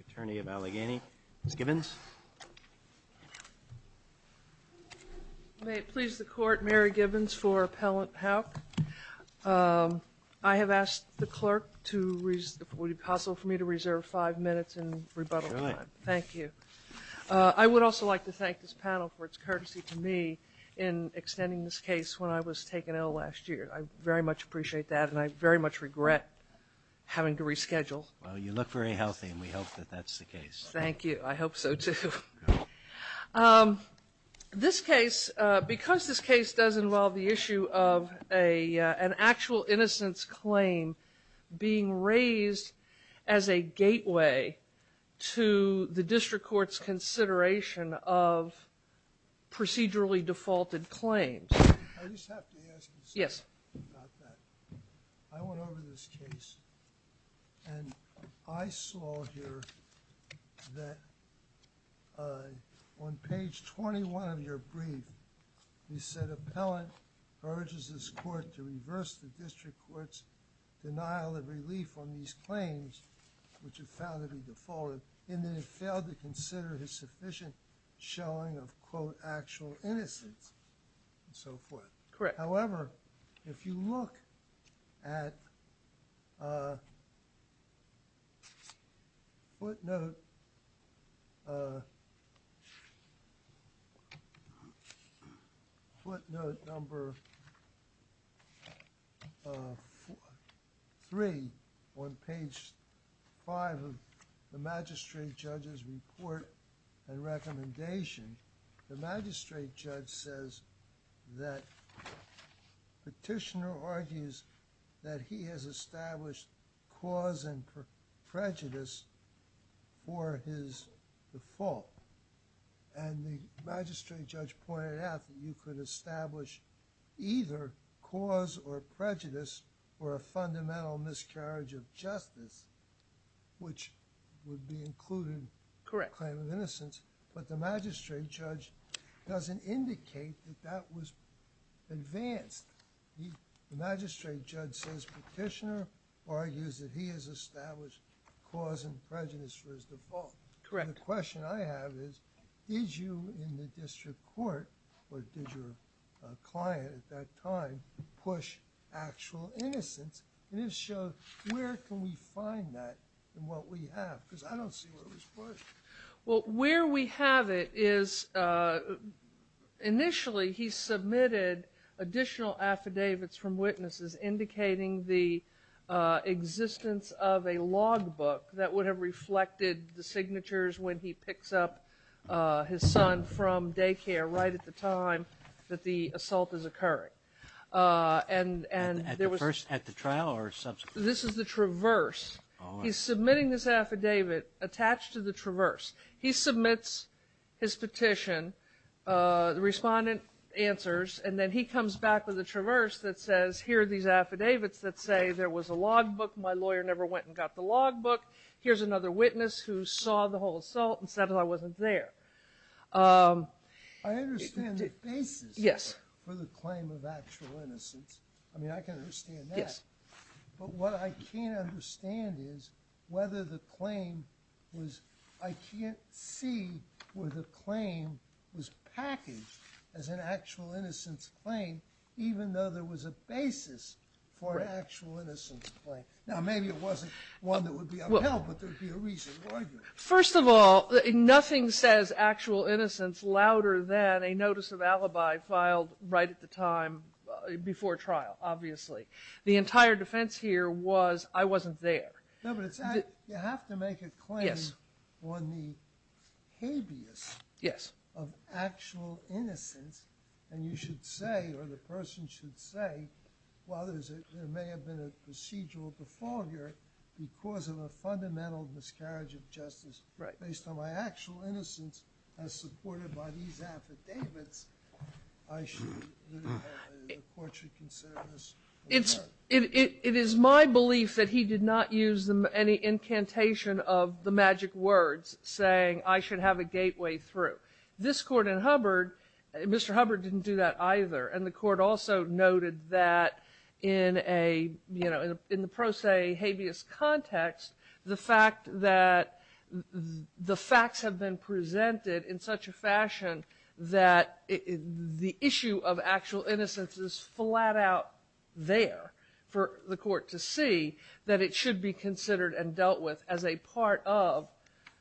Attorney of Allegheny, Ms. Gibbons. May it please the Court, Mary Gibbons for Appellant Hauck. I have asked the clerk to, would it be possible for me to reserve five minutes in rebuttal time? Sure. Thank you. I would also like to thank this panel for its courtesy to me in extending this case when I was taken ill last year. I very much appreciate that, and I very much regret having to reschedule. Well, you look very healthy, and we hope that that's the case. Thank you. I hope so, too. This case, because this case does involve the issue of an actual innocence claim being raised as a gateway to the district court's consideration of procedurally defaulted claims. I just have to ask you something about that. Yes. I went over this case, and I saw here that on page 21 of your brief, you said, The appellant urges this court to reverse the district court's denial of relief on these claims, which have found to be defaulted, in that it failed to consider his sufficient showing of, quote, actual innocence, and so forth. Correct. However, if you look at footnote number 3 on page 5 of the magistrate judge's report and recommendation, the magistrate judge says that petitioner argues that he has established cause and prejudice for his default, and the magistrate judge pointed out that you could establish either cause or prejudice or a fundamental miscarriage of justice, which would be included in the claim of innocence. But the magistrate judge doesn't indicate that that was advanced. The magistrate judge says petitioner argues that he has established cause and prejudice for his default. Correct. And the question I have is, did you in the district court, or did your client at that time, push actual innocence? And if so, where can we find that in what we have? Because I don't see where it was pushed. Well, where we have it is initially he submitted additional affidavits from witnesses indicating the existence of a logbook that would have reflected the signatures when he picks up his son from daycare right at the time that the assault is occurring. At the trial or subsequently? This is the traverse. He's submitting this affidavit attached to the traverse. He submits his petition. The respondent answers, and then he comes back with a traverse that says, here are these affidavits that say there was a logbook, my lawyer never went and got the logbook, here's another witness who saw the whole assault and said I wasn't there. I understand the basis for the claim of actual innocence. I mean, I can understand that. Yes. But what I can't understand is whether the claim was, I can't see where the claim was packaged as an actual innocence claim, even though there was a basis for an actual innocence claim. Now, maybe it wasn't one that would be upheld, but there would be a reason why. First of all, nothing says actual innocence louder than a notice of alibi filed right at the time before trial, obviously. The entire defense here was I wasn't there. No, but you have to make a claim on the habeas of actual innocence, and you should say or the person should say, well, there may have been a procedural defaulter because of a fundamental miscarriage of justice. Based on my actual innocence as supported by these affidavits, I should consider this. It is my belief that he did not use any incantation of the magic words, saying I should have a gateway through. This Court in Hubbard, Mr. Hubbard didn't do that either, and the Court also noted that in a, you know, in the pro se habeas context, the fact that the facts have been presented in such a fashion that the issue of actual innocence is flat out there for the Court to see, that it should be considered and dealt with as a part of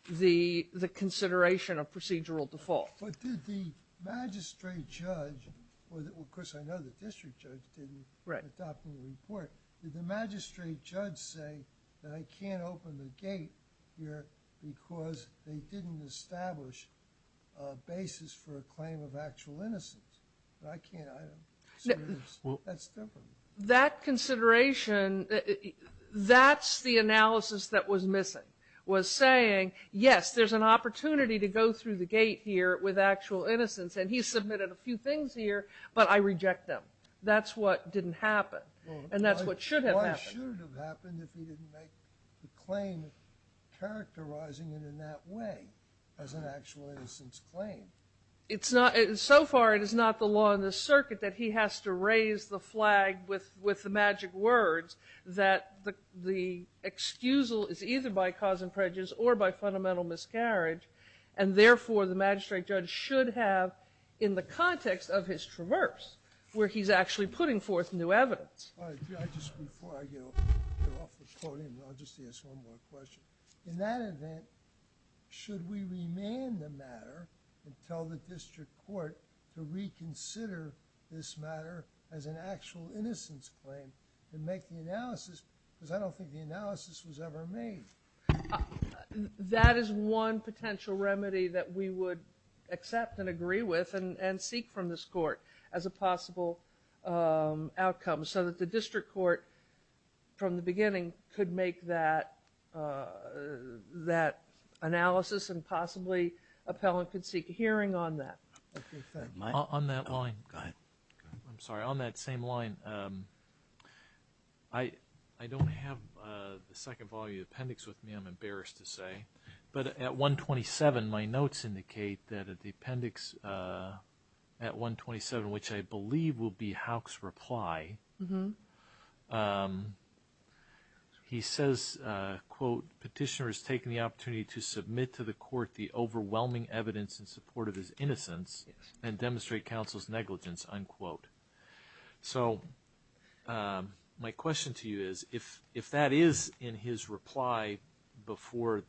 the consideration of procedural default. But did the magistrate judge, well, of course, I know the district judge didn't adopt the report. Did the magistrate judge say that I can't open the gate here because they didn't establish a basis for a claim of actual innocence? I can't either. That's different. That consideration, that's the analysis that was missing, was saying, yes, there's an opportunity to go through the gate here with actual innocence, and he submitted a few things here, but I reject them. That's what didn't happen, and that's what should have happened. Why should it have happened if he didn't make the claim characterizing it in that way as an actual innocence claim? It's not, so far it is not the law in the circuit that he has to raise the flag with the magic words that the excusal is either by cause and prejudice or by fundamental miscarriage, and therefore the magistrate judge should have, in the context of his traverse, where he's actually putting forth new evidence. All right, judges, before I go off the podium, I'll just ask one more question. In that event, should we remand the matter and tell the district court to reconsider this matter as an actual innocence claim and make the analysis? Because I don't think the analysis was ever made. That is one potential remedy that we would accept and agree with and seek from this court as a possible outcome so that the district court, from the beginning, could make that analysis and possibly appellant could seek a hearing on that. On that line, I'm sorry, on that same line, I don't have the second volume of the appendix with me, I'm embarrassed to say, but at 127, my notes indicate that at the appendix at 127, which I believe will be Houck's reply, he says, quote, Petitioner has taken the opportunity to submit to the court the overwhelming evidence in support of his innocence and demonstrate counsel's negligence, unquote. So my question to you is, if that is in his reply before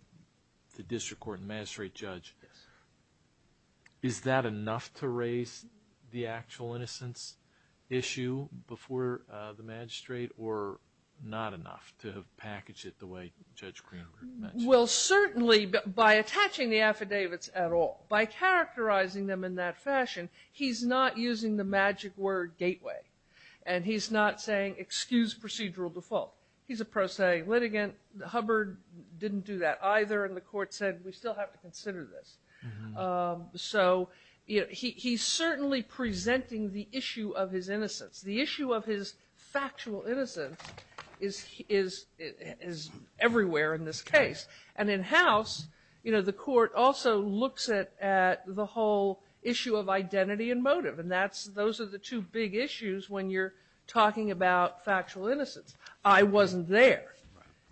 the district court and magistrate judge, is that enough to raise the actual innocence issue before the magistrate or not enough to package it the way Judge Greenberg mentioned? Well, certainly, by attaching the affidavits at all, by characterizing them in that fashion, he's not using the magic word gateway. And he's not saying, excuse procedural default. He's a pro se litigant. Hubbard didn't do that either, and the court said, we still have to consider this. So he's certainly presenting the issue of his innocence. The issue of his factual innocence is everywhere in this case. And in House, the court also looks at the whole issue of identity and motive. And those are the two big issues when you're talking about factual innocence. I wasn't there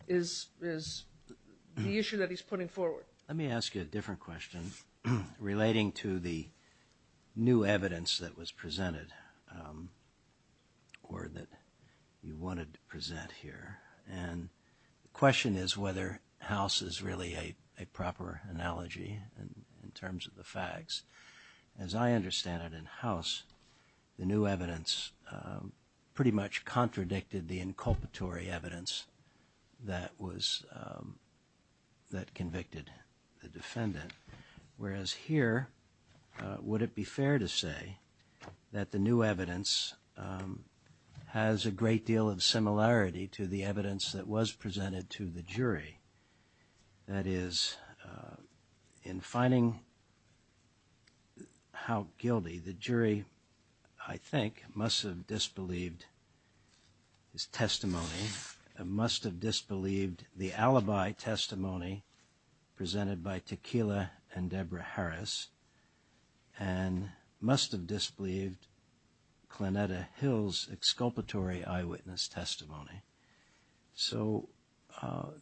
is the issue that he's putting forward. Let me ask you a different question relating to the new evidence that was presented or that you wanted to present here. And the question is whether House is really a proper analogy in terms of the facts. As I understand it in House, the new evidence pretty much contradicted the inculpatory evidence that convicted the defendant. Whereas here, would it be fair to say that the new evidence has a great deal of similarity to the evidence that was presented to the jury? That is, in finding how guilty, the jury, I think, must have disbelieved his testimony, must have disbelieved the alibi testimony presented by Tequila and Deborah Harris, and must have disbelieved Clonetta Hill's exculpatory eyewitness testimony. So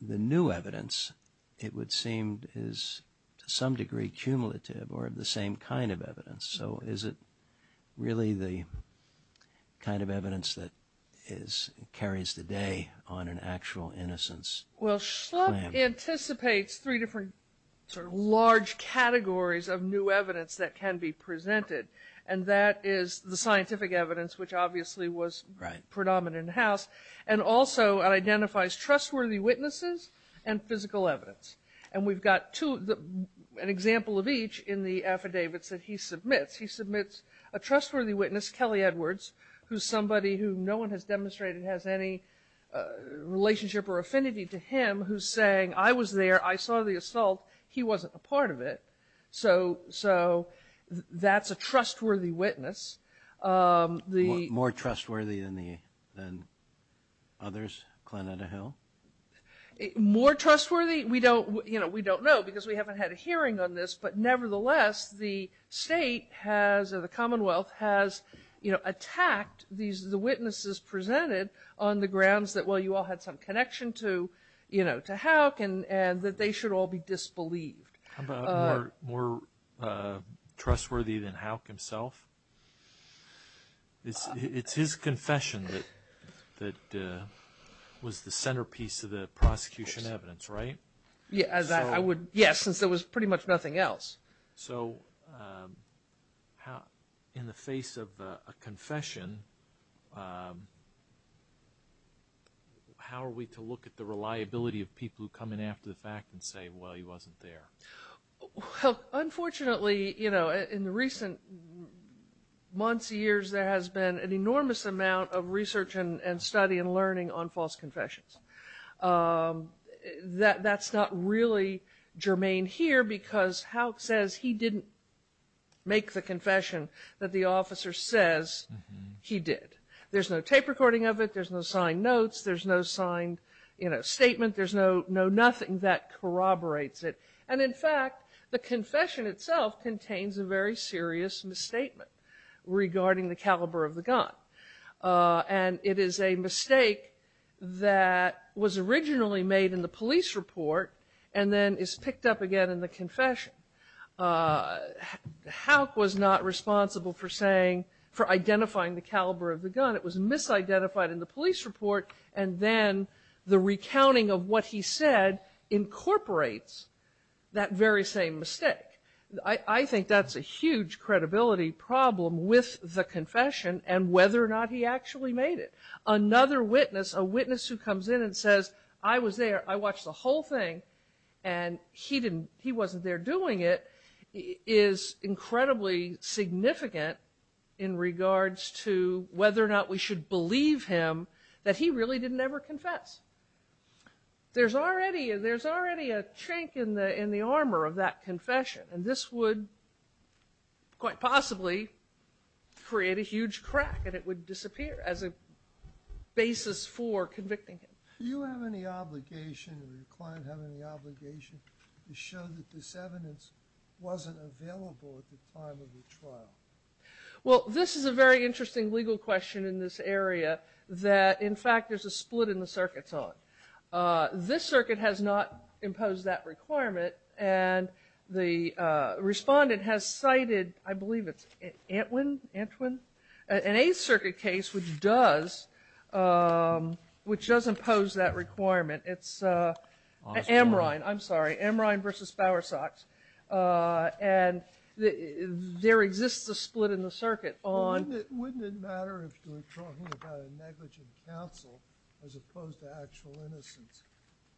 the new evidence, it would seem, is to some degree cumulative or of the same kind of evidence. So is it really the kind of evidence that carries the day on an actual innocence? Well, Schlupf anticipates three different sort of large categories of new evidence that can be presented. And that is the scientific evidence, which obviously was predominant in House, and also identifies trustworthy witnesses and physical evidence. And we've got an example of each in the affidavits that he submits. He submits a trustworthy witness, Kelly Edwards, who's somebody who no one has demonstrated has any relationship or affinity to him, who's saying, I was there, I saw the assault, he wasn't a part of it. So that's a trustworthy witness. More trustworthy than others, Clonetta Hill? More trustworthy? We don't know because we haven't had a hearing on this, but nevertheless the state has, or the Commonwealth has, you know, attacked the witnesses presented on the grounds that, well, you all had some connection to Houck and that they should all be disbelieved. How about more trustworthy than Houck himself? It's his confession that was the centerpiece of the prosecution evidence, right? Yes, since there was pretty much nothing else. So in the face of a confession, how are we to look at the reliability of people who come in after the fact and say, well, he wasn't there? Well, unfortunately, you know, in the recent months, years, there has been an enormous amount of research and study and learning on false confessions. That's not really germane here because Houck says he didn't make the confession that the officer says he did. There's no tape recording of it. There's no signed notes. There's no signed, you know, statement. There's no nothing that corroborates it. And, in fact, the confession itself contains a very serious misstatement regarding the caliber of the gun. And it is a mistake that was originally made in the police report and then is picked up again in the confession. Houck was not responsible for saying, for identifying the caliber of the gun. It was misidentified in the police report. And then the recounting of what he said incorporates that very same mistake. I think that's a huge credibility problem with the confession and whether or not he actually made it. Another witness, a witness who comes in and says, I was there. I watched the whole thing, and he wasn't there doing it, is incredibly significant in regards to whether or not we should believe him that he really didn't ever confess. There's already a chink in the armor of that confession, and this would quite possibly create a huge crack, and it would disappear as a basis for convicting him. Do you have any obligation or your client have any obligation to show that this evidence wasn't available at the time of the trial? Well, this is a very interesting legal question in this area that, in fact, there's a split in the circuits on. This circuit has not imposed that requirement, and the respondent has cited, I believe it's Antwin, Antwin, an Eighth Circuit case which does impose that requirement. It's Amrine, I'm sorry, Amrine v. Bowersox. And there exists a split in the circuit on. Wouldn't it matter if you're talking about a negligent counsel as opposed to actual innocence?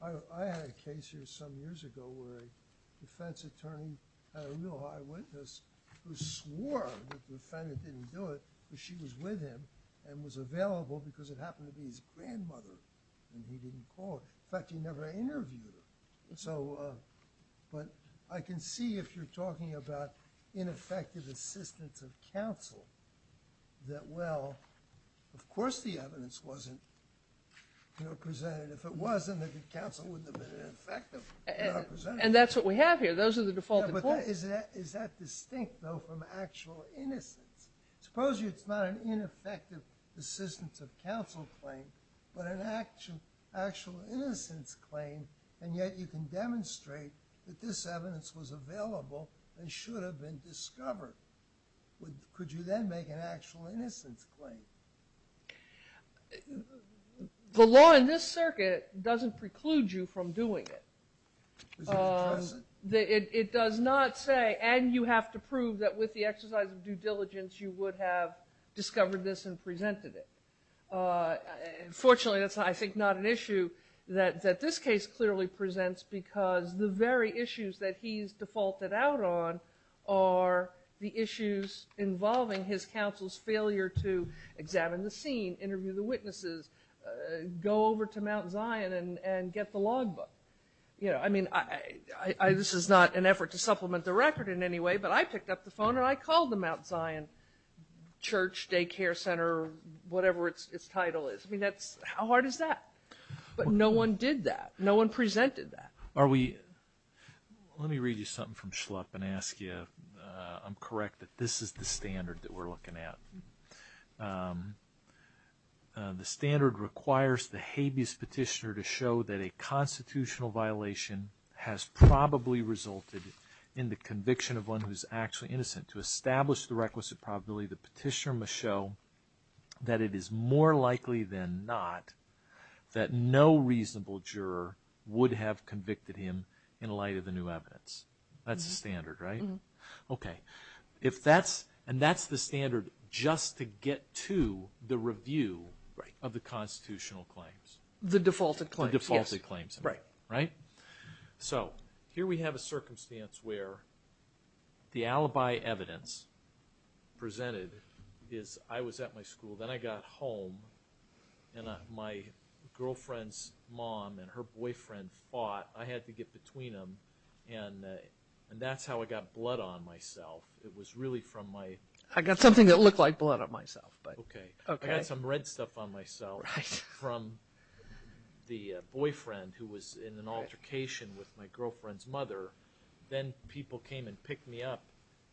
I had a case here some years ago where a defense attorney had a real high witness who swore that the defendant didn't do it, but she was with him and was available because it happened to be his grandmother, and he didn't call her. In fact, he never interviewed her. But I can see if you're talking about ineffective assistance of counsel that, well, of course the evidence wasn't presented. If it was, then the counsel wouldn't have been ineffective. And that's what we have here. Those are the defaulted points. But is that distinct, though, from actual innocence? Suppose it's not an ineffective assistance of counsel claim but an actual innocence claim, and yet you can demonstrate that this evidence was available and should have been discovered. Could you then make an actual innocence claim? The law in this circuit doesn't preclude you from doing it. Does it address it? It does not say, and you have to prove that with the exercise of due diligence, you would have discovered this and presented it. Fortunately, that's, I think, not an issue that this case clearly presents because the very issues that he's defaulted out on are the issues involving his counsel's failure to examine the scene, interview the witnesses, go over to Mount Zion and get the logbook. I mean, this is not an effort to supplement the record in any way, but I picked up the phone and I called the Mount Zion church, daycare center, whatever its title is. I mean, how hard is that? But no one did that. No one presented that. Let me read you something from Schlupp and ask you if I'm correct that this is the standard that we're looking at. The standard requires the habeas petitioner to show that a constitutional violation has probably resulted in the conviction of one who's actually innocent. To establish the requisite probability, the petitioner must show that it is more likely than not that no reasonable juror would have convicted him in light of the new evidence. That's the standard, right? Okay. If that's, and that's the standard just to get to the review of the constitutional claims. The defaulted claims. The defaulted claims. Right. So here we have a circumstance where the alibi evidence presented is I was at my school, then I got home, and my girlfriend's mom and her boyfriend fought. I had to get between them, and that's how I got blood on myself. It was really from my... I got something that looked like blood on myself. Okay. I got some red stuff on myself from the boyfriend who was in an altercation with my girlfriend's mother. Then people came and picked me up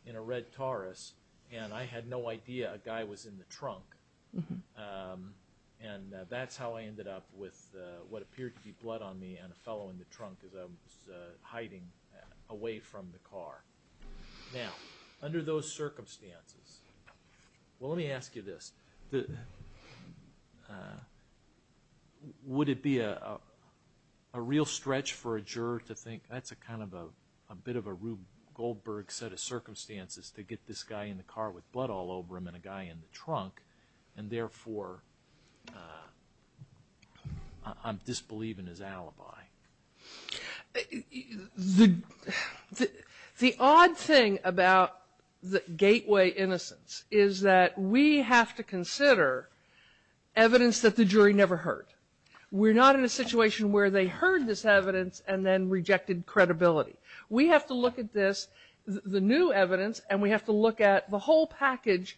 in a red Taurus, and I had no idea a guy was in the trunk. And that's how I ended up with what appeared to be blood on me and a fellow in the trunk as I was hiding away from the car. Now, under those circumstances... Let me ask you this. Would it be a real stretch for a juror to think, that's kind of a bit of a Rube Goldberg set of circumstances to get this guy in the car with blood all over him and a guy in the trunk, and therefore I'm disbelieving his alibi? The odd thing about the gateway innocence is that we have to consider evidence that the jury never heard. We're not in a situation where they heard this evidence and then rejected credibility. We have to look at this, the new evidence, and we have to look at the whole package,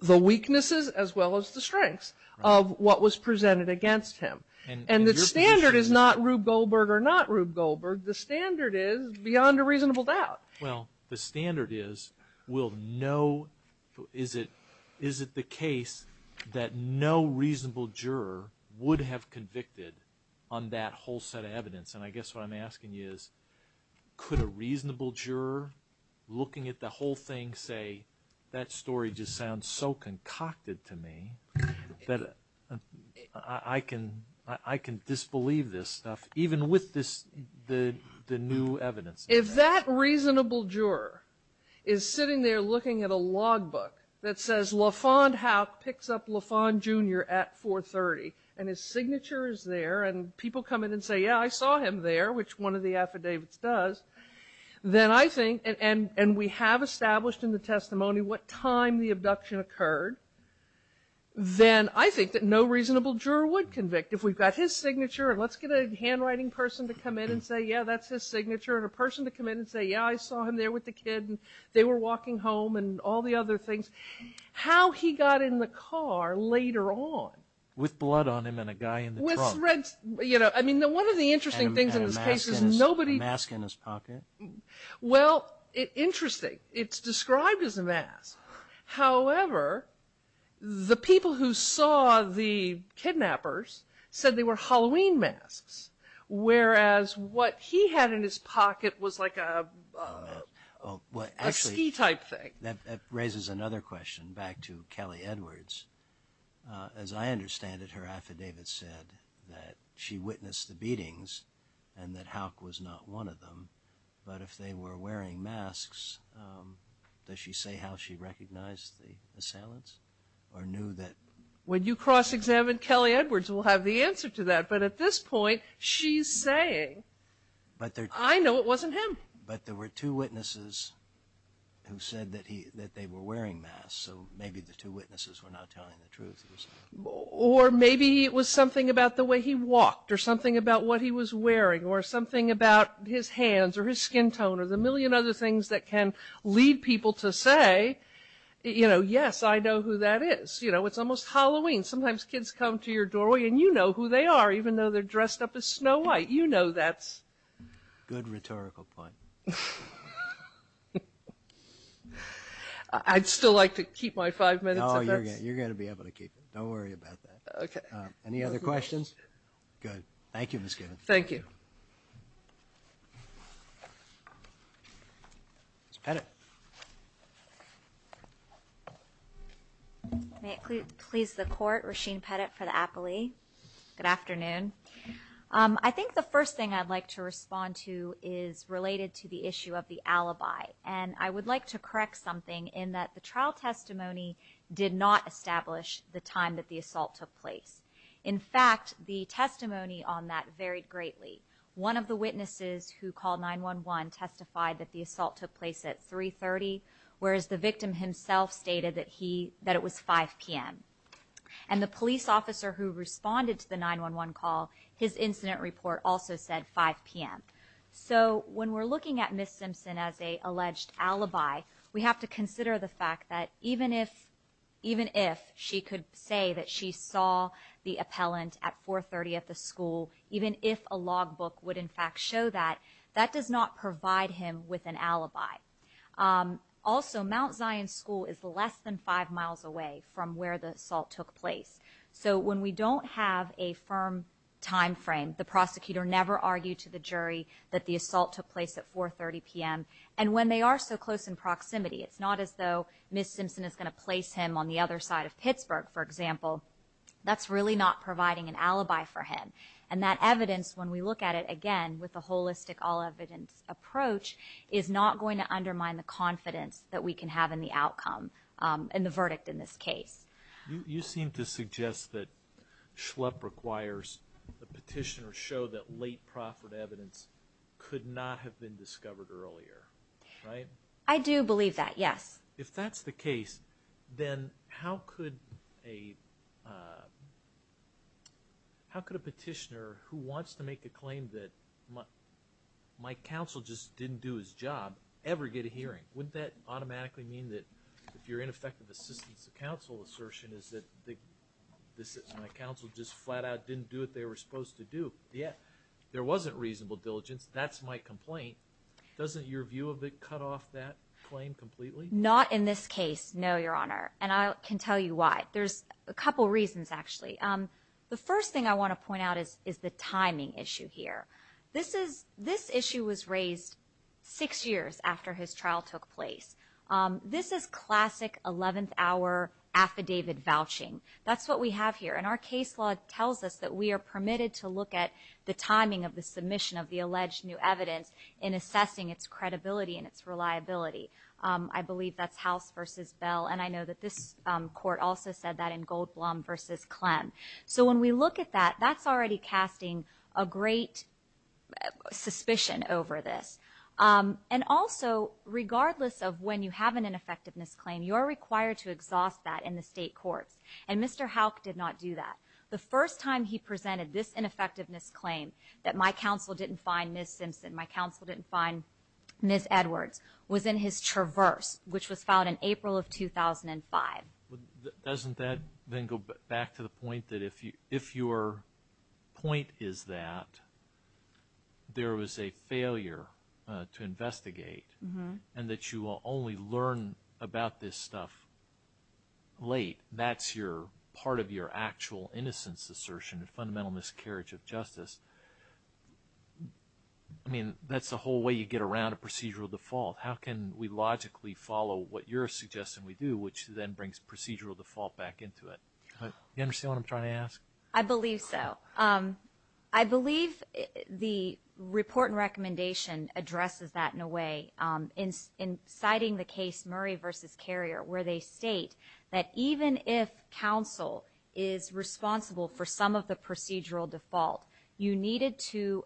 the weaknesses as well as the strengths of what was presented against him. And the standard is not Rube Goldberg or not Rube Goldberg. The standard is beyond a reasonable doubt. Well, the standard is, is it the case that no reasonable juror would have convicted on that whole set of evidence? And I guess what I'm asking you is, could a reasonable juror looking at the whole thing say, that story just sounds so concocted to me that I can disbelieve this stuff, even with the new evidence? If that reasonable juror is sitting there looking at a logbook that says LaFond Howe picks up LaFond Jr. at 430 and his signature is there and people come in and say, yeah, I saw him there, which one of the affidavits does, tell me what time the abduction occurred, then I think that no reasonable juror would convict. If we've got his signature and let's get a handwriting person to come in and say, yeah, that's his signature, and a person to come in and say, yeah, I saw him there with the kid and they were walking home and all the other things. How he got in the car later on. With blood on him and a guy in the trunk. I mean, one of the interesting things in this case is nobody. And a mask in his pocket. Well, interesting. It's described as a mask. However, the people who saw the kidnappers said they were Halloween masks, whereas what he had in his pocket was like a ski type thing. That raises another question back to Kelly Edwards. As I understand it, her affidavit said that she witnessed the beatings and that Hauk was not one of them. But if they were wearing masks, does she say how she recognized the assailants? Or knew that? When you cross-examine Kelly Edwards, we'll have the answer to that. But at this point, she's saying, I know it wasn't him. But there were two witnesses who said that they were wearing masks. So maybe the two witnesses were not telling the truth. Or maybe it was something about the way he walked or something about what he was wearing or something about his hands or his skin tone or the million other things that can lead people to say, you know, yes, I know who that is. You know, it's almost Halloween. Sometimes kids come to your doorway and you know who they are, even though they're dressed up as Snow White. You know that's. Good rhetorical point. I'd still like to keep my five minutes. No, you're going to be able to keep it. Don't worry about that. Okay. Any other questions? Good. Thank you, Ms. Gibbons. Thank you. Ms. Pettit. May it please the Court. Rasheen Pettit for the Apoly. Good afternoon. I think the first thing I'd like to respond to is related to the issue of the alibi. And I would like to correct something in that the trial testimony did not establish the time that the assault took place. In fact, the testimony on that varied greatly. One of the witnesses who called 911 testified that the assault took place at 3.30, whereas the victim himself stated that it was 5 p.m. And the police officer who responded to the 911 call, his incident report also said 5 p.m. So when we're looking at Ms. Simpson as an alleged alibi, we have to consider the fact that even if she could say that she saw the appellant at 4.30 at the school, even if a logbook would, in fact, show that, that does not provide him with an alibi. Also, Mount Zion School is less than five miles away from where the assault took place. So when we don't have a firm time frame, the prosecutor never argued to the jury that the assault took place at 4.30 p.m. And when they are so close in proximity, it's not as though Ms. Simpson is going to place him on the other side of Pittsburgh, for example. That's really not providing an alibi for him. And that evidence, when we look at it again with a holistic all-evidence approach, is not going to undermine the confidence that we can have in the outcome and the verdict in this case. You seem to suggest that Schlepp requires the petitioner show that late proffered evidence could not have been discovered earlier, right? I do believe that, yes. If that's the case, then how could a petitioner who wants to make a claim that my counsel just didn't do his job ever get a hearing? Wouldn't that automatically mean that if your ineffective assistance to counsel assertion is that my counsel just flat out didn't do what they were supposed to do, yet there wasn't reasonable diligence, that's my complaint. Doesn't your view of it cut off that claim completely? Not in this case, no, Your Honor. And I can tell you why. There's a couple reasons, actually. The first thing I want to point out is the timing issue here. This issue was raised six years after his trial took place. This is classic 11th hour affidavit vouching. That's what we have here, and our case law tells us that we are permitted to look at the timing of the submission of the alleged new evidence in assessing its credibility and its reliability. I believe that's House v. Bell, and I know that this court also said that in Goldblum v. Clem. So when we look at that, that's already casting a great suspicion over this. And also, regardless of when you have an ineffectiveness claim, you are required to exhaust that in the state courts. And Mr. Houck did not do that. The first time he presented this ineffectiveness claim, that my counsel didn't find Ms. Simpson, my counsel didn't find Ms. Edwards, was in his traverse, which was filed in April of 2005. Doesn't that then go back to the point that if your point is that there was a failure to investigate and that you will only learn about this stuff late, that's part of your actual innocence assertion, a fundamental miscarriage of justice. I mean, that's the whole way you get around a procedural default. How can we logically follow what you're suggesting we do, which then brings procedural default back into it? Do you understand what I'm trying to ask? I believe so. I believe the report and recommendation addresses that in a way in citing the case Murray v. Carrier, where they state that even if counsel is responsible for some of the procedural default, you needed to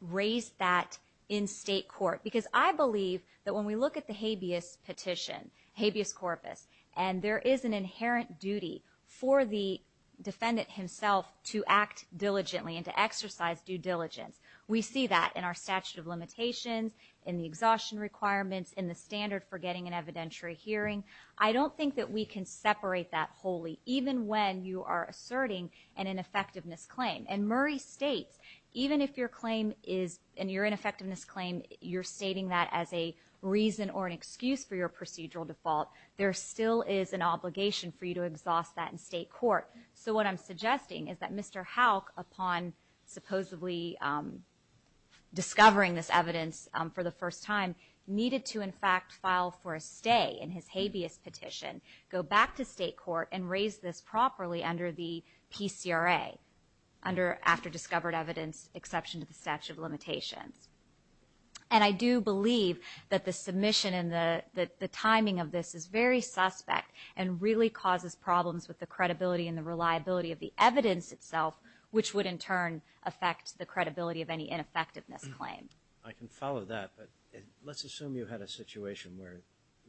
raise that in state court. Because I believe that when we look at the habeas petition, habeas corpus, and there is an inherent duty for the defendant himself to act diligently and to exercise due diligence. We see that in our statute of limitations, in the exhaustion requirements, in the standard for getting an evidentiary hearing. I don't think that we can separate that wholly, even when you are asserting an ineffectiveness claim. And Murray states, even if your claim is, in your ineffectiveness claim, you're stating that as a reason or an excuse for your procedural default, there still is an obligation for you to exhaust that in state court. So what I'm suggesting is that Mr. Houck, upon supposedly discovering this evidence for the first time, needed to, in fact, file for a stay in his habeas petition, go back to state court and raise this properly under the PCRA, under after discovered evidence exception to the statute of limitations. And I do believe that the submission and the timing of this is very suspect and really causes problems with the credibility and the reliability of the evidence itself, which would in turn affect the credibility of any ineffectiveness claim. I can follow that, but let's assume you had a situation where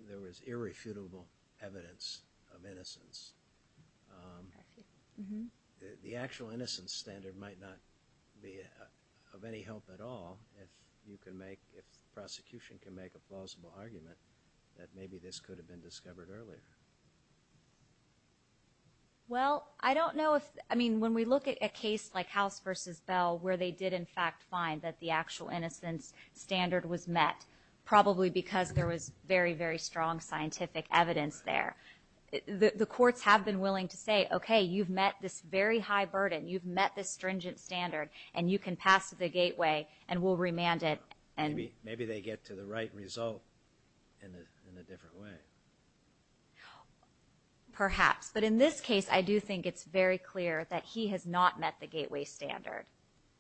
there was irrefutable evidence of innocence. The actual innocence standard might not be of any help at all if you can make, if the prosecution can make a plausible argument that maybe this could have been discovered earlier. Well, I don't know if, I mean, when we look at a case like House v. Bell, where they did, in fact, find that the actual innocence standard was met, probably because there was very, very strong scientific evidence there. The courts have been willing to say, okay, you've met this very high burden, you've met this stringent standard, and you can pass the gateway and we'll remand it. Maybe they get to the right result in a different way. Perhaps, but in this case, I do think it's very clear that he has not met the gateway standard.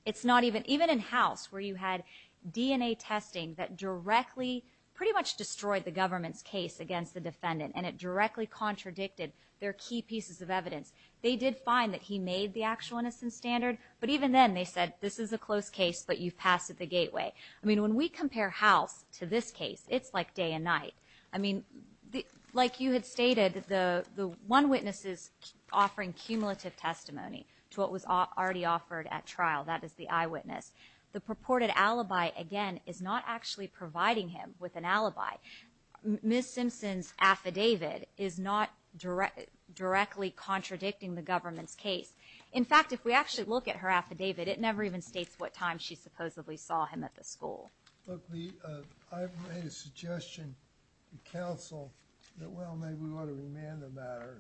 It's not even, even in House, where you had DNA testing that directly, pretty much destroyed the government's case against the defendant and it directly contradicted their key pieces of evidence. They did find that he made the actual innocence standard, but even then they said, this is a close case, but you've passed it the gateway. I mean, when we compare House to this case, it's like day and night. I mean, like you had stated, the one witness is offering cumulative testimony to what was already offered at trial, that is the eyewitness. The purported alibi, again, is not actually providing him with an alibi. Ms. Simpson's affidavit is not directly contradicting the government's case. In fact, if we actually look at her affidavit, it never even states what time she supposedly saw him at the school. Look, Lee, I've made a suggestion to counsel that, well, maybe we ought to remand the matter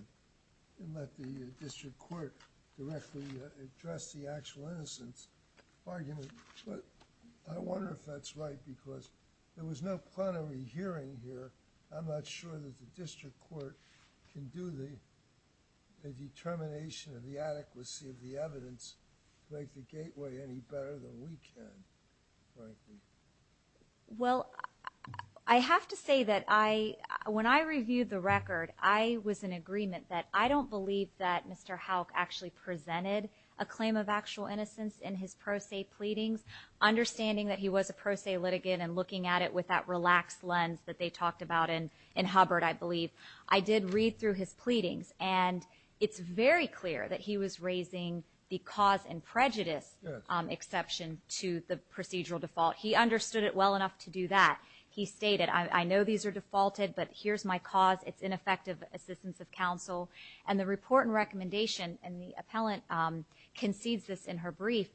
and let the district court directly address the actual innocence argument, but I wonder if that's right because there was no plenary hearing here. I'm not sure that the district court can do the determination of the adequacy of the evidence to make the gateway any better than we can, frankly. Well, I have to say that when I reviewed the record, I was in agreement that I don't believe that Mr. Houck actually presented a claim of actual innocence in his pro se pleadings. Understanding that he was a pro se litigant and looking at it with that relaxed lens that they talked about in Hubbard, I believe, I did read through his pleadings, and it's very clear that he was raising the cause and prejudice exception to the procedural default. He understood it well enough to do that. He stated, I know these are defaulted, but here's my cause. It's ineffective assistance of counsel. And the report and recommendation, and the appellant concedes this in her brief,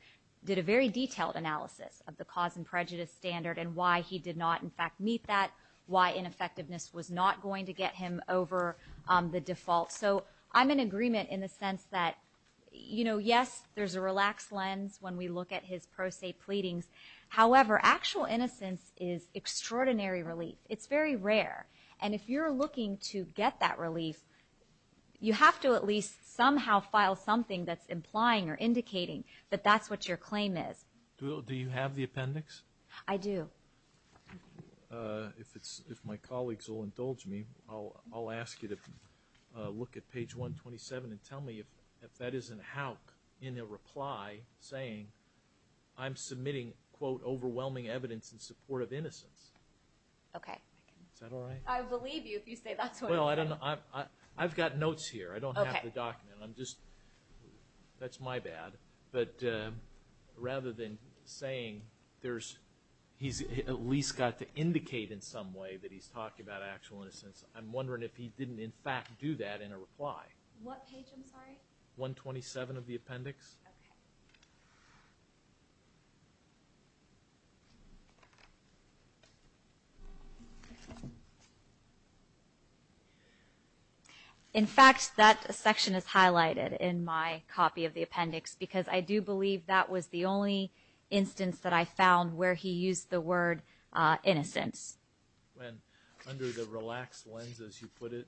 did a very detailed analysis of the cause and prejudice standard and why he did not, in fact, meet that, why ineffectiveness was not going to get him over the default. So I'm in agreement in the sense that, you know, yes, there's a relaxed lens when we look at his pro se pleadings. However, actual innocence is extraordinary relief. It's very rare. And if you're looking to get that relief, you have to at least somehow file something that's implying or indicating that that's what your claim is. Do you have the appendix? I do. If my colleagues will indulge me, I'll ask you to look at page 127 and tell me if that isn't Houck in a reply saying, I'm submitting, quote, overwhelming evidence in support of innocence. Okay. Is that all right? I believe you if you say that's what it is. Well, I've got notes here. I don't have the document. I'm just, that's my bad. But rather than saying he's at least got to indicate in some way that he's talking about actual innocence, I'm wondering if he didn't, in fact, do that in a reply. What page, I'm sorry? 127 of the appendix. Okay. In fact, that section is highlighted in my copy of the appendix because I do believe that was the only instance that I found where he used the word innocence. Under the relaxed lens, as you put it,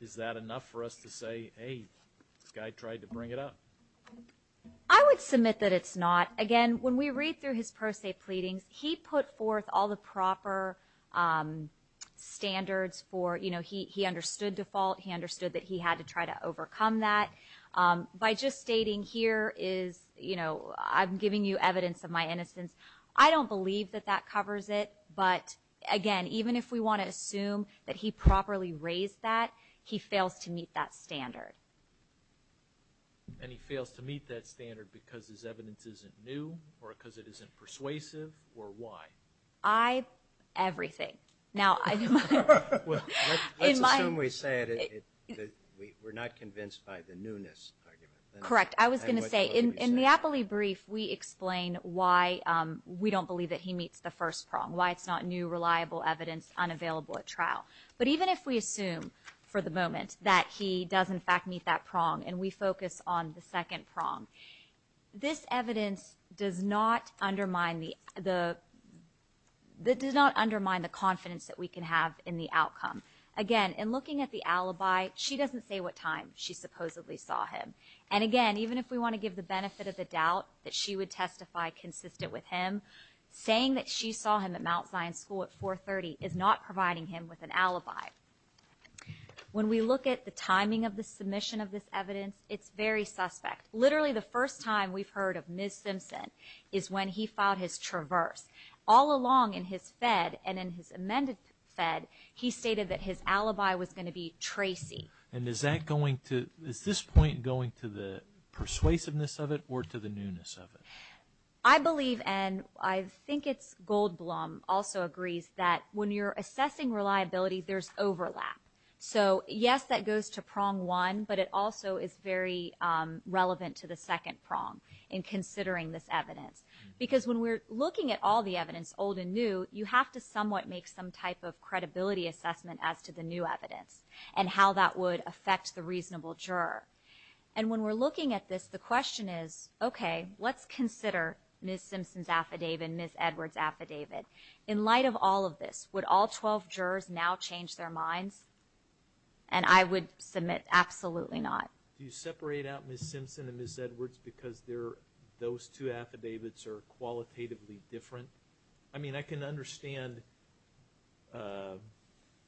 is that enough for us to say, hey, this guy tried to bring it up? I would submit that it's not. Again, when we read through his pro se pleadings, he put forth all the proper standards for, you know, he understood default. He understood that he had to try to overcome that. By just stating here is, you know, I'm giving you evidence of my innocence, I don't believe that that covers it. But, again, even if we want to assume that he properly raised that, he fails to meet that standard. And he fails to meet that standard because his evidence isn't new or because it isn't persuasive or why? Everything. Let's assume we say it, we're not convinced by the newness argument. Correct. I was going to say, in the Appley brief, we explain why we don't believe that he meets the first prong, why it's not new, reliable evidence unavailable at trial. But even if we assume for the moment that he does in fact meet that prong and we focus on the second prong, this evidence does not undermine the confidence that we can have in the outcome. Again, in looking at the alibi, she doesn't say what time she supposedly saw him. And, again, even if we want to give the benefit of the doubt that she would testify consistent with him, saying that she saw him at Mount Zion School at 430 is not providing him with an alibi. When we look at the timing of the submission of this evidence, it's very suspect. Literally the first time we've heard of Ms. Simpson is when he filed his traverse. All along in his Fed and in his amended Fed, he stated that his alibi was going to be Tracy. And is this point going to the persuasiveness of it or to the newness of it? I believe, and I think it's Goldblum also agrees, that when you're assessing reliability, there's overlap. So, yes, that goes to prong one, but it also is very relevant to the second prong in considering this evidence. Because when we're looking at all the evidence, old and new, you have to somewhat make some type of credibility assessment as to the new evidence and how that would affect the reasonable juror. And when we're looking at this, the question is, okay, let's consider Ms. Simpson's affidavit and Ms. Edwards' affidavit. In light of all of this, would all 12 jurors now change their minds? And I would submit absolutely not. Do you separate out Ms. Simpson and Ms. Edwards because those two affidavits are qualitatively different? I mean, I can understand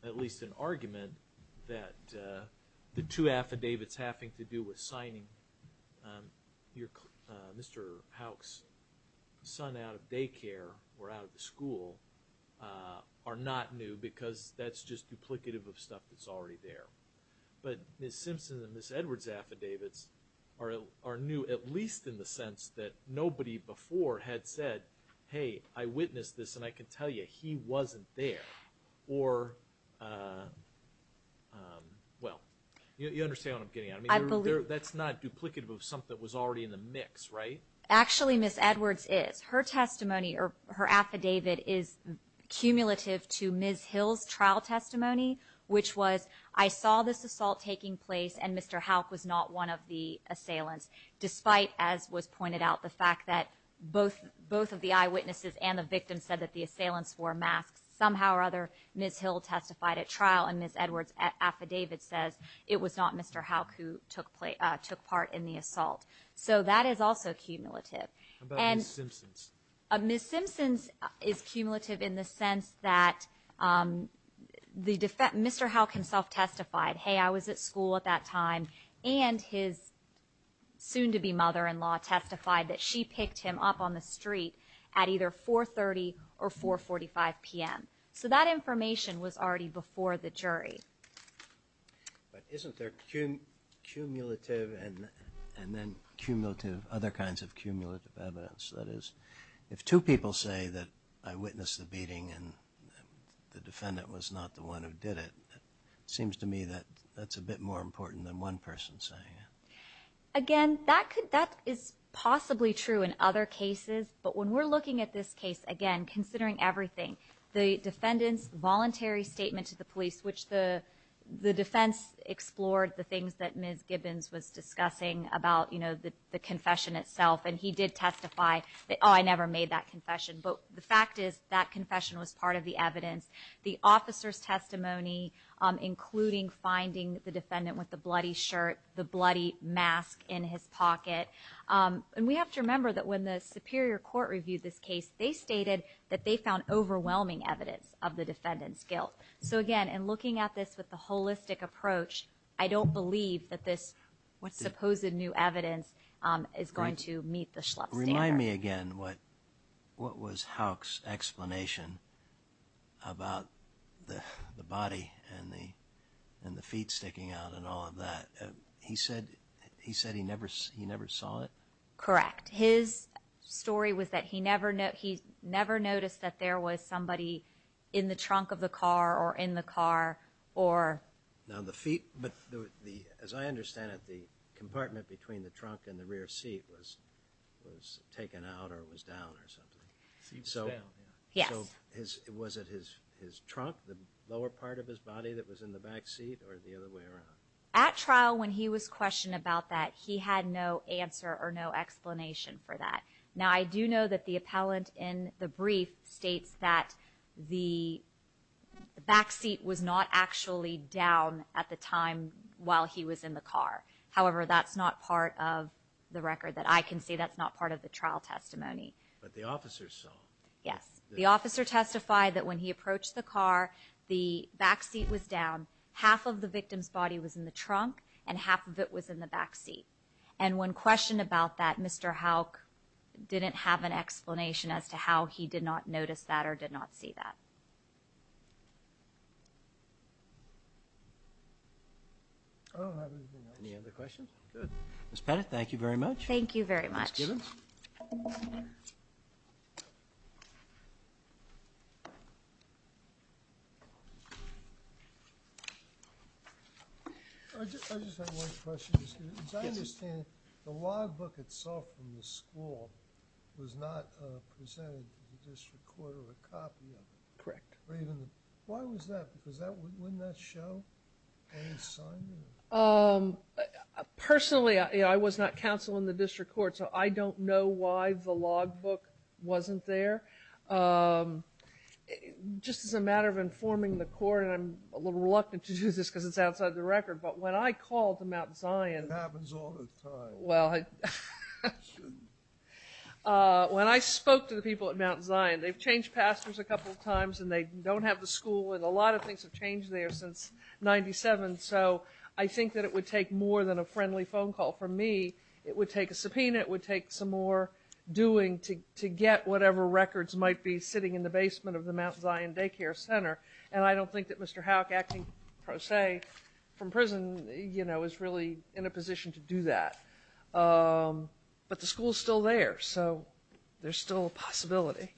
at least an argument that the two affidavits having to do with signing Mr. Houck's son out of daycare or out of the school are not new because that's just duplicative of stuff that's already there. But Ms. Simpson's and Ms. Edwards' affidavits are new, at least in the sense that nobody before had said, hey, I witnessed this and I can tell you he wasn't there. Or, well, you understand what I'm getting at. That's not duplicative of something that was already in the mix, right? Actually, Ms. Edwards is. Her testimony or her affidavit is cumulative to Ms. Hill's trial testimony, which was, I saw this assault taking place and Mr. Houck was not one of the assailants, despite, as was pointed out, the fact that both of the eyewitnesses and the victim said that the assailants wore masks. Somehow or other, Ms. Hill testified at trial and Ms. Edwards' affidavit says it was not Mr. Houck who took part in the assault. So that is also cumulative. How about Ms. Simpson's? Ms. Simpson's is cumulative in the sense that Mr. Houck himself testified, hey, I was at school at that time, and his soon-to-be mother-in-law testified that she picked him up on the street at either 4.30 or 4.45 p.m. So that information was already before the jury. But isn't there cumulative and then cumulative, other kinds of cumulative evidence? That is, if two people say that I witnessed the beating and the defendant was not the one who did it, it seems to me that that's a bit more important than one person saying it. Again, that is possibly true in other cases, but when we're looking at this case, again, considering everything, the defendant's voluntary statement to the police, which the defense explored the things that Ms. Gibbons was discussing about the confession itself, and he did testify, oh, I never made that confession, but the fact is that confession was part of the evidence. The officer's testimony, including finding the defendant with the bloody shirt, the bloody mask in his pocket. And we have to remember that when the superior court reviewed this case, they stated that they found overwhelming evidence of the defendant's guilt. So again, in looking at this with the holistic approach, I don't believe that this supposed new evidence is going to meet the Schlupp standard. Remind me again what was Houck's explanation about the body and the feet sticking out and all of that. He said he never saw it? Correct. His story was that he never noticed that there was somebody in the trunk of the car or in the car or... Now, the feet, as I understand it, the compartment between the trunk and the rear seat was taken out or was down or something. Seat was down. Yes. So was it his trunk, the lower part of his body that was in the back seat, or the other way around? At trial, when he was questioned about that, he had no answer or no explanation for that. Now, I do know that the appellant in the brief states that the back seat was not actually down at the time while he was in the car. However, that's not part of the record that I can see. That's not part of the trial testimony. But the officer saw. Yes. The officer testified that when he approached the car, the back seat was down. Half of the victim's body was in the trunk, and half of it was in the back seat. And when questioned about that, Mr. Houck didn't have an explanation as to how he did not notice that or did not see that. I don't have anything else. Any other questions? Good. Ms. Pettit, thank you very much. Thank you very much. I just have one question, Ms. Gibbons. As I understand it, the logbook itself from the school was not presented to the district court or a copy of it. Correct. Why was that? Because wouldn't that show any sign? Personally, I was not counsel in the district court, so I don't know why the logbook wasn't there. Just as a matter of informing the court, and I'm a little reluctant to do this because it's outside the record, but when I called to Mount Zion... It happens all the time. Well, when I spoke to the people at Mount Zion, they've changed pastors a couple of times, and they don't have the school, and a lot of things have changed there since 97. So I think that it would take more than a friendly phone call from me. It would take a subpoena. It would take some more doing to get whatever records might be sitting in the basement of the Mount Zion daycare center. And I don't think that Mr. Howick, acting pro se from prison, is really in a position to do that. But the school is still there, so there's still a possibility.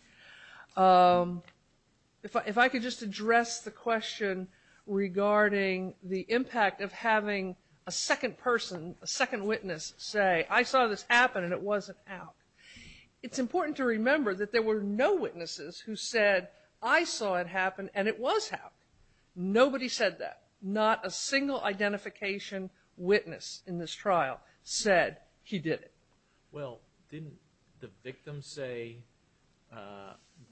If I could just address the question regarding the impact of having a second person, a second witness say, I saw this happen, and it wasn't out. It's important to remember that there were no witnesses who said, I saw it happen, and it was out. Nobody said that. Not a single identification witness in this trial said he did it. Well, didn't the victim say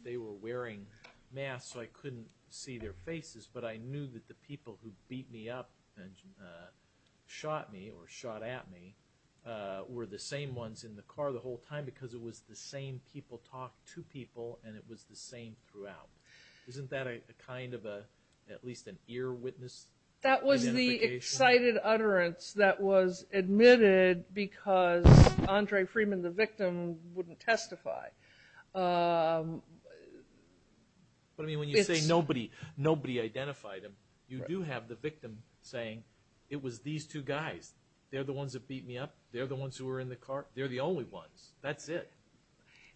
they were wearing masks so I couldn't see their faces, but I knew that the people who beat me up and shot me or shot at me were the same ones in the car the whole time because it was the same people talk to people and it was the same throughout. Isn't that a kind of at least an ear witness identification? That was the excited utterance that was admitted because Andre Freeman, the victim, wouldn't testify. But I mean, when you say nobody identified him, you do have the victim saying it was these two guys. They're the ones that beat me up. They're the ones who were in the car. They're the only ones. That's it.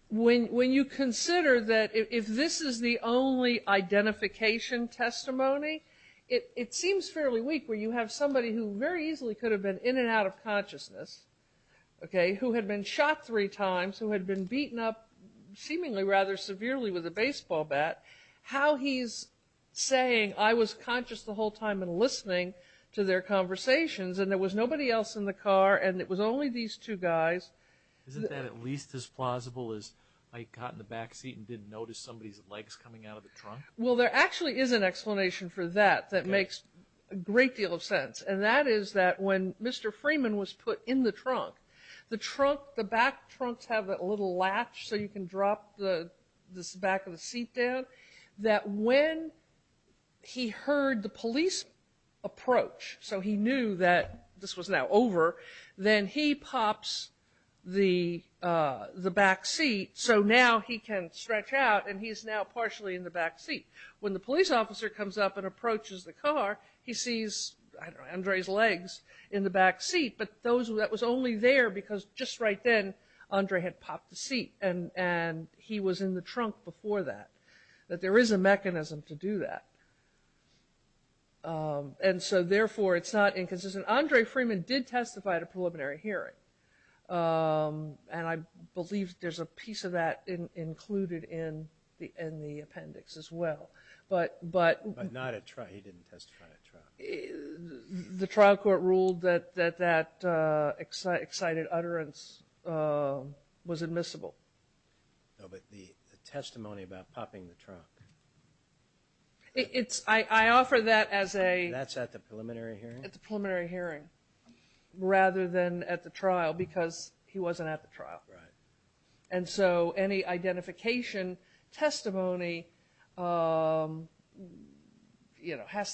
When you consider that if this is the only identification testimony, it seems fairly weak where you have somebody who very easily could have been in and out of consciousness, okay, who had been shot three times, who had been beaten up seemingly rather severely with a baseball bat, how he's saying, I was conscious the whole time and listening to their conversations and there was nobody else in the car and it was only these two guys. Isn't that at least as plausible as I got in the back seat and didn't notice somebody's legs coming out of the trunk? Well, there actually is an explanation for that that makes a great deal of sense, and that is that when Mr. Freeman was put in the trunk, the trunk, the back trunks have that little latch so you can drop the back of the seat down, that when he heard the police approach, so he knew that this was now over, then he pops the back seat so now he can stretch out and he's now partially in the back seat. When the police officer comes up and approaches the car, he sees, I don't know, Andre's legs in the back seat, but that was only there because just right then Andre had popped the seat and he was in the trunk before that, that there is a mechanism to do that. And so therefore it's not inconsistent. Andre Freeman did testify at a preliminary hearing and I believe there's a piece of that included in the appendix as well. But not at trial. He didn't testify at trial. The trial court ruled that that excited utterance was admissible. No, but the testimony about popping the trunk. I offer that as a... That's at the preliminary hearing? At the preliminary hearing rather than at the trial because he wasn't at the trial. Right. And so any identification testimony has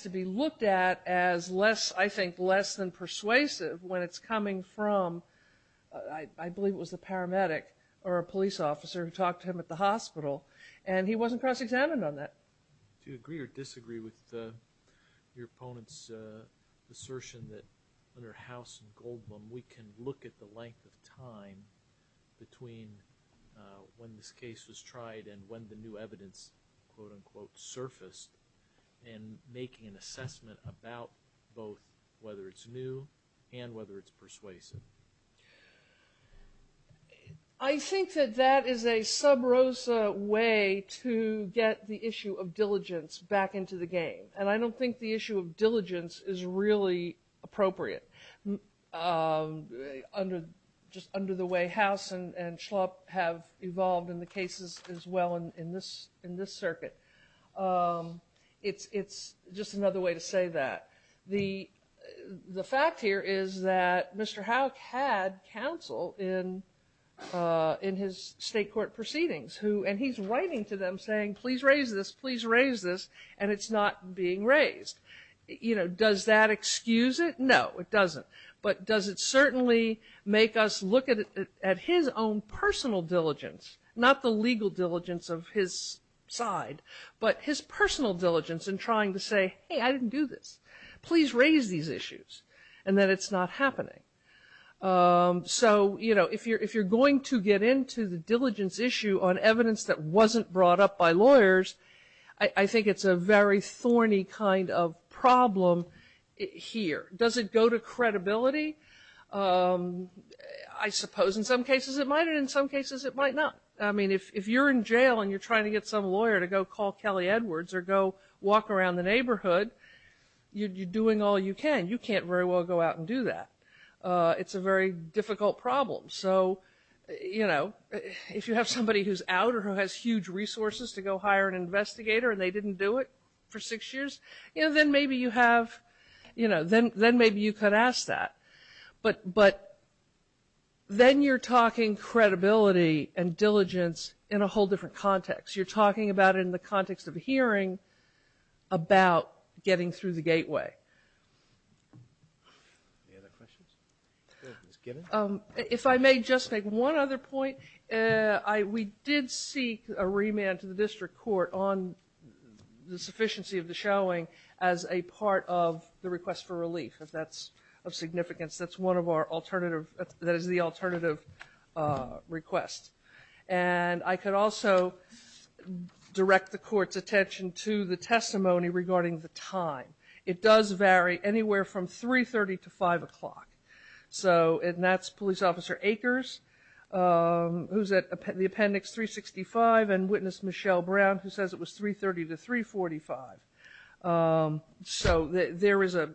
to be looked at as less, I think, less than persuasive when it's coming from, I believe it was the paramedic or a police officer who talked to him at the hospital and he wasn't cross-examined on that. Do you agree or disagree with your opponent's assertion that under House and Goldblum we can look at the length of time between when this case was tried and when the new evidence, quote-unquote, surfaced, and making an assessment about both whether it's new and whether it's persuasive? I think that that is a sub rosa way to get the issue of diligence back into the game. And I don't think the issue of diligence is really appropriate. Just under the way House and Schlupp have evolved in the cases as well in this circuit. It's just another way to say that. The fact here is that Mr. Houck had counsel in his state court proceedings and he's writing to them saying, please raise this, please raise this, and it's not being raised. Does that excuse it? No, it doesn't. But does it certainly make us look at his own personal diligence, not the legal diligence of his side, but his personal diligence in trying to say, hey, I didn't do this. Please raise these issues and that it's not happening. So if you're going to get into the diligence issue on evidence that wasn't brought up by lawyers, I think it's a very thorny kind of problem here. Does it go to credibility? I suppose in some cases it might and in some cases it might not. I mean, if you're in jail and you're trying to get some lawyer to go call Kelly Edwards or go walk around the neighborhood, you're doing all you can. You can't very well go out and do that. It's a very difficult problem. So, you know, if you have somebody who's out or who has huge resources to go hire an investigator and they didn't do it for six years, you know, then maybe you have, you know, then maybe you could ask that. But then you're talking credibility and diligence in a whole different context. You're talking about it in the context of hearing about getting through the gateway. Any other questions? If I may just make one other point. We did seek a remand to the district court on the sufficiency of the showing as a part of the request for relief, if that's of significance. That's one of our alternative, that is the alternative request. And I could also direct the court's attention to the testimony regarding the time. It does vary anywhere from 3.30 to 5 o'clock. And that's Police Officer Akers, who's at the appendix 365, and Witness Michelle Brown, who says it was 3.30 to 3.45. So there is a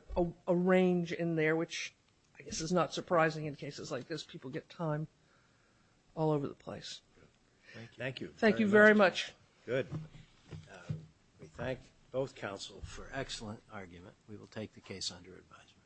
range in there, which I guess is not surprising in cases like this. People get time all over the place. Thank you. Thank you very much. Good. We thank both counsel for excellent argument. We will take the case under advisement.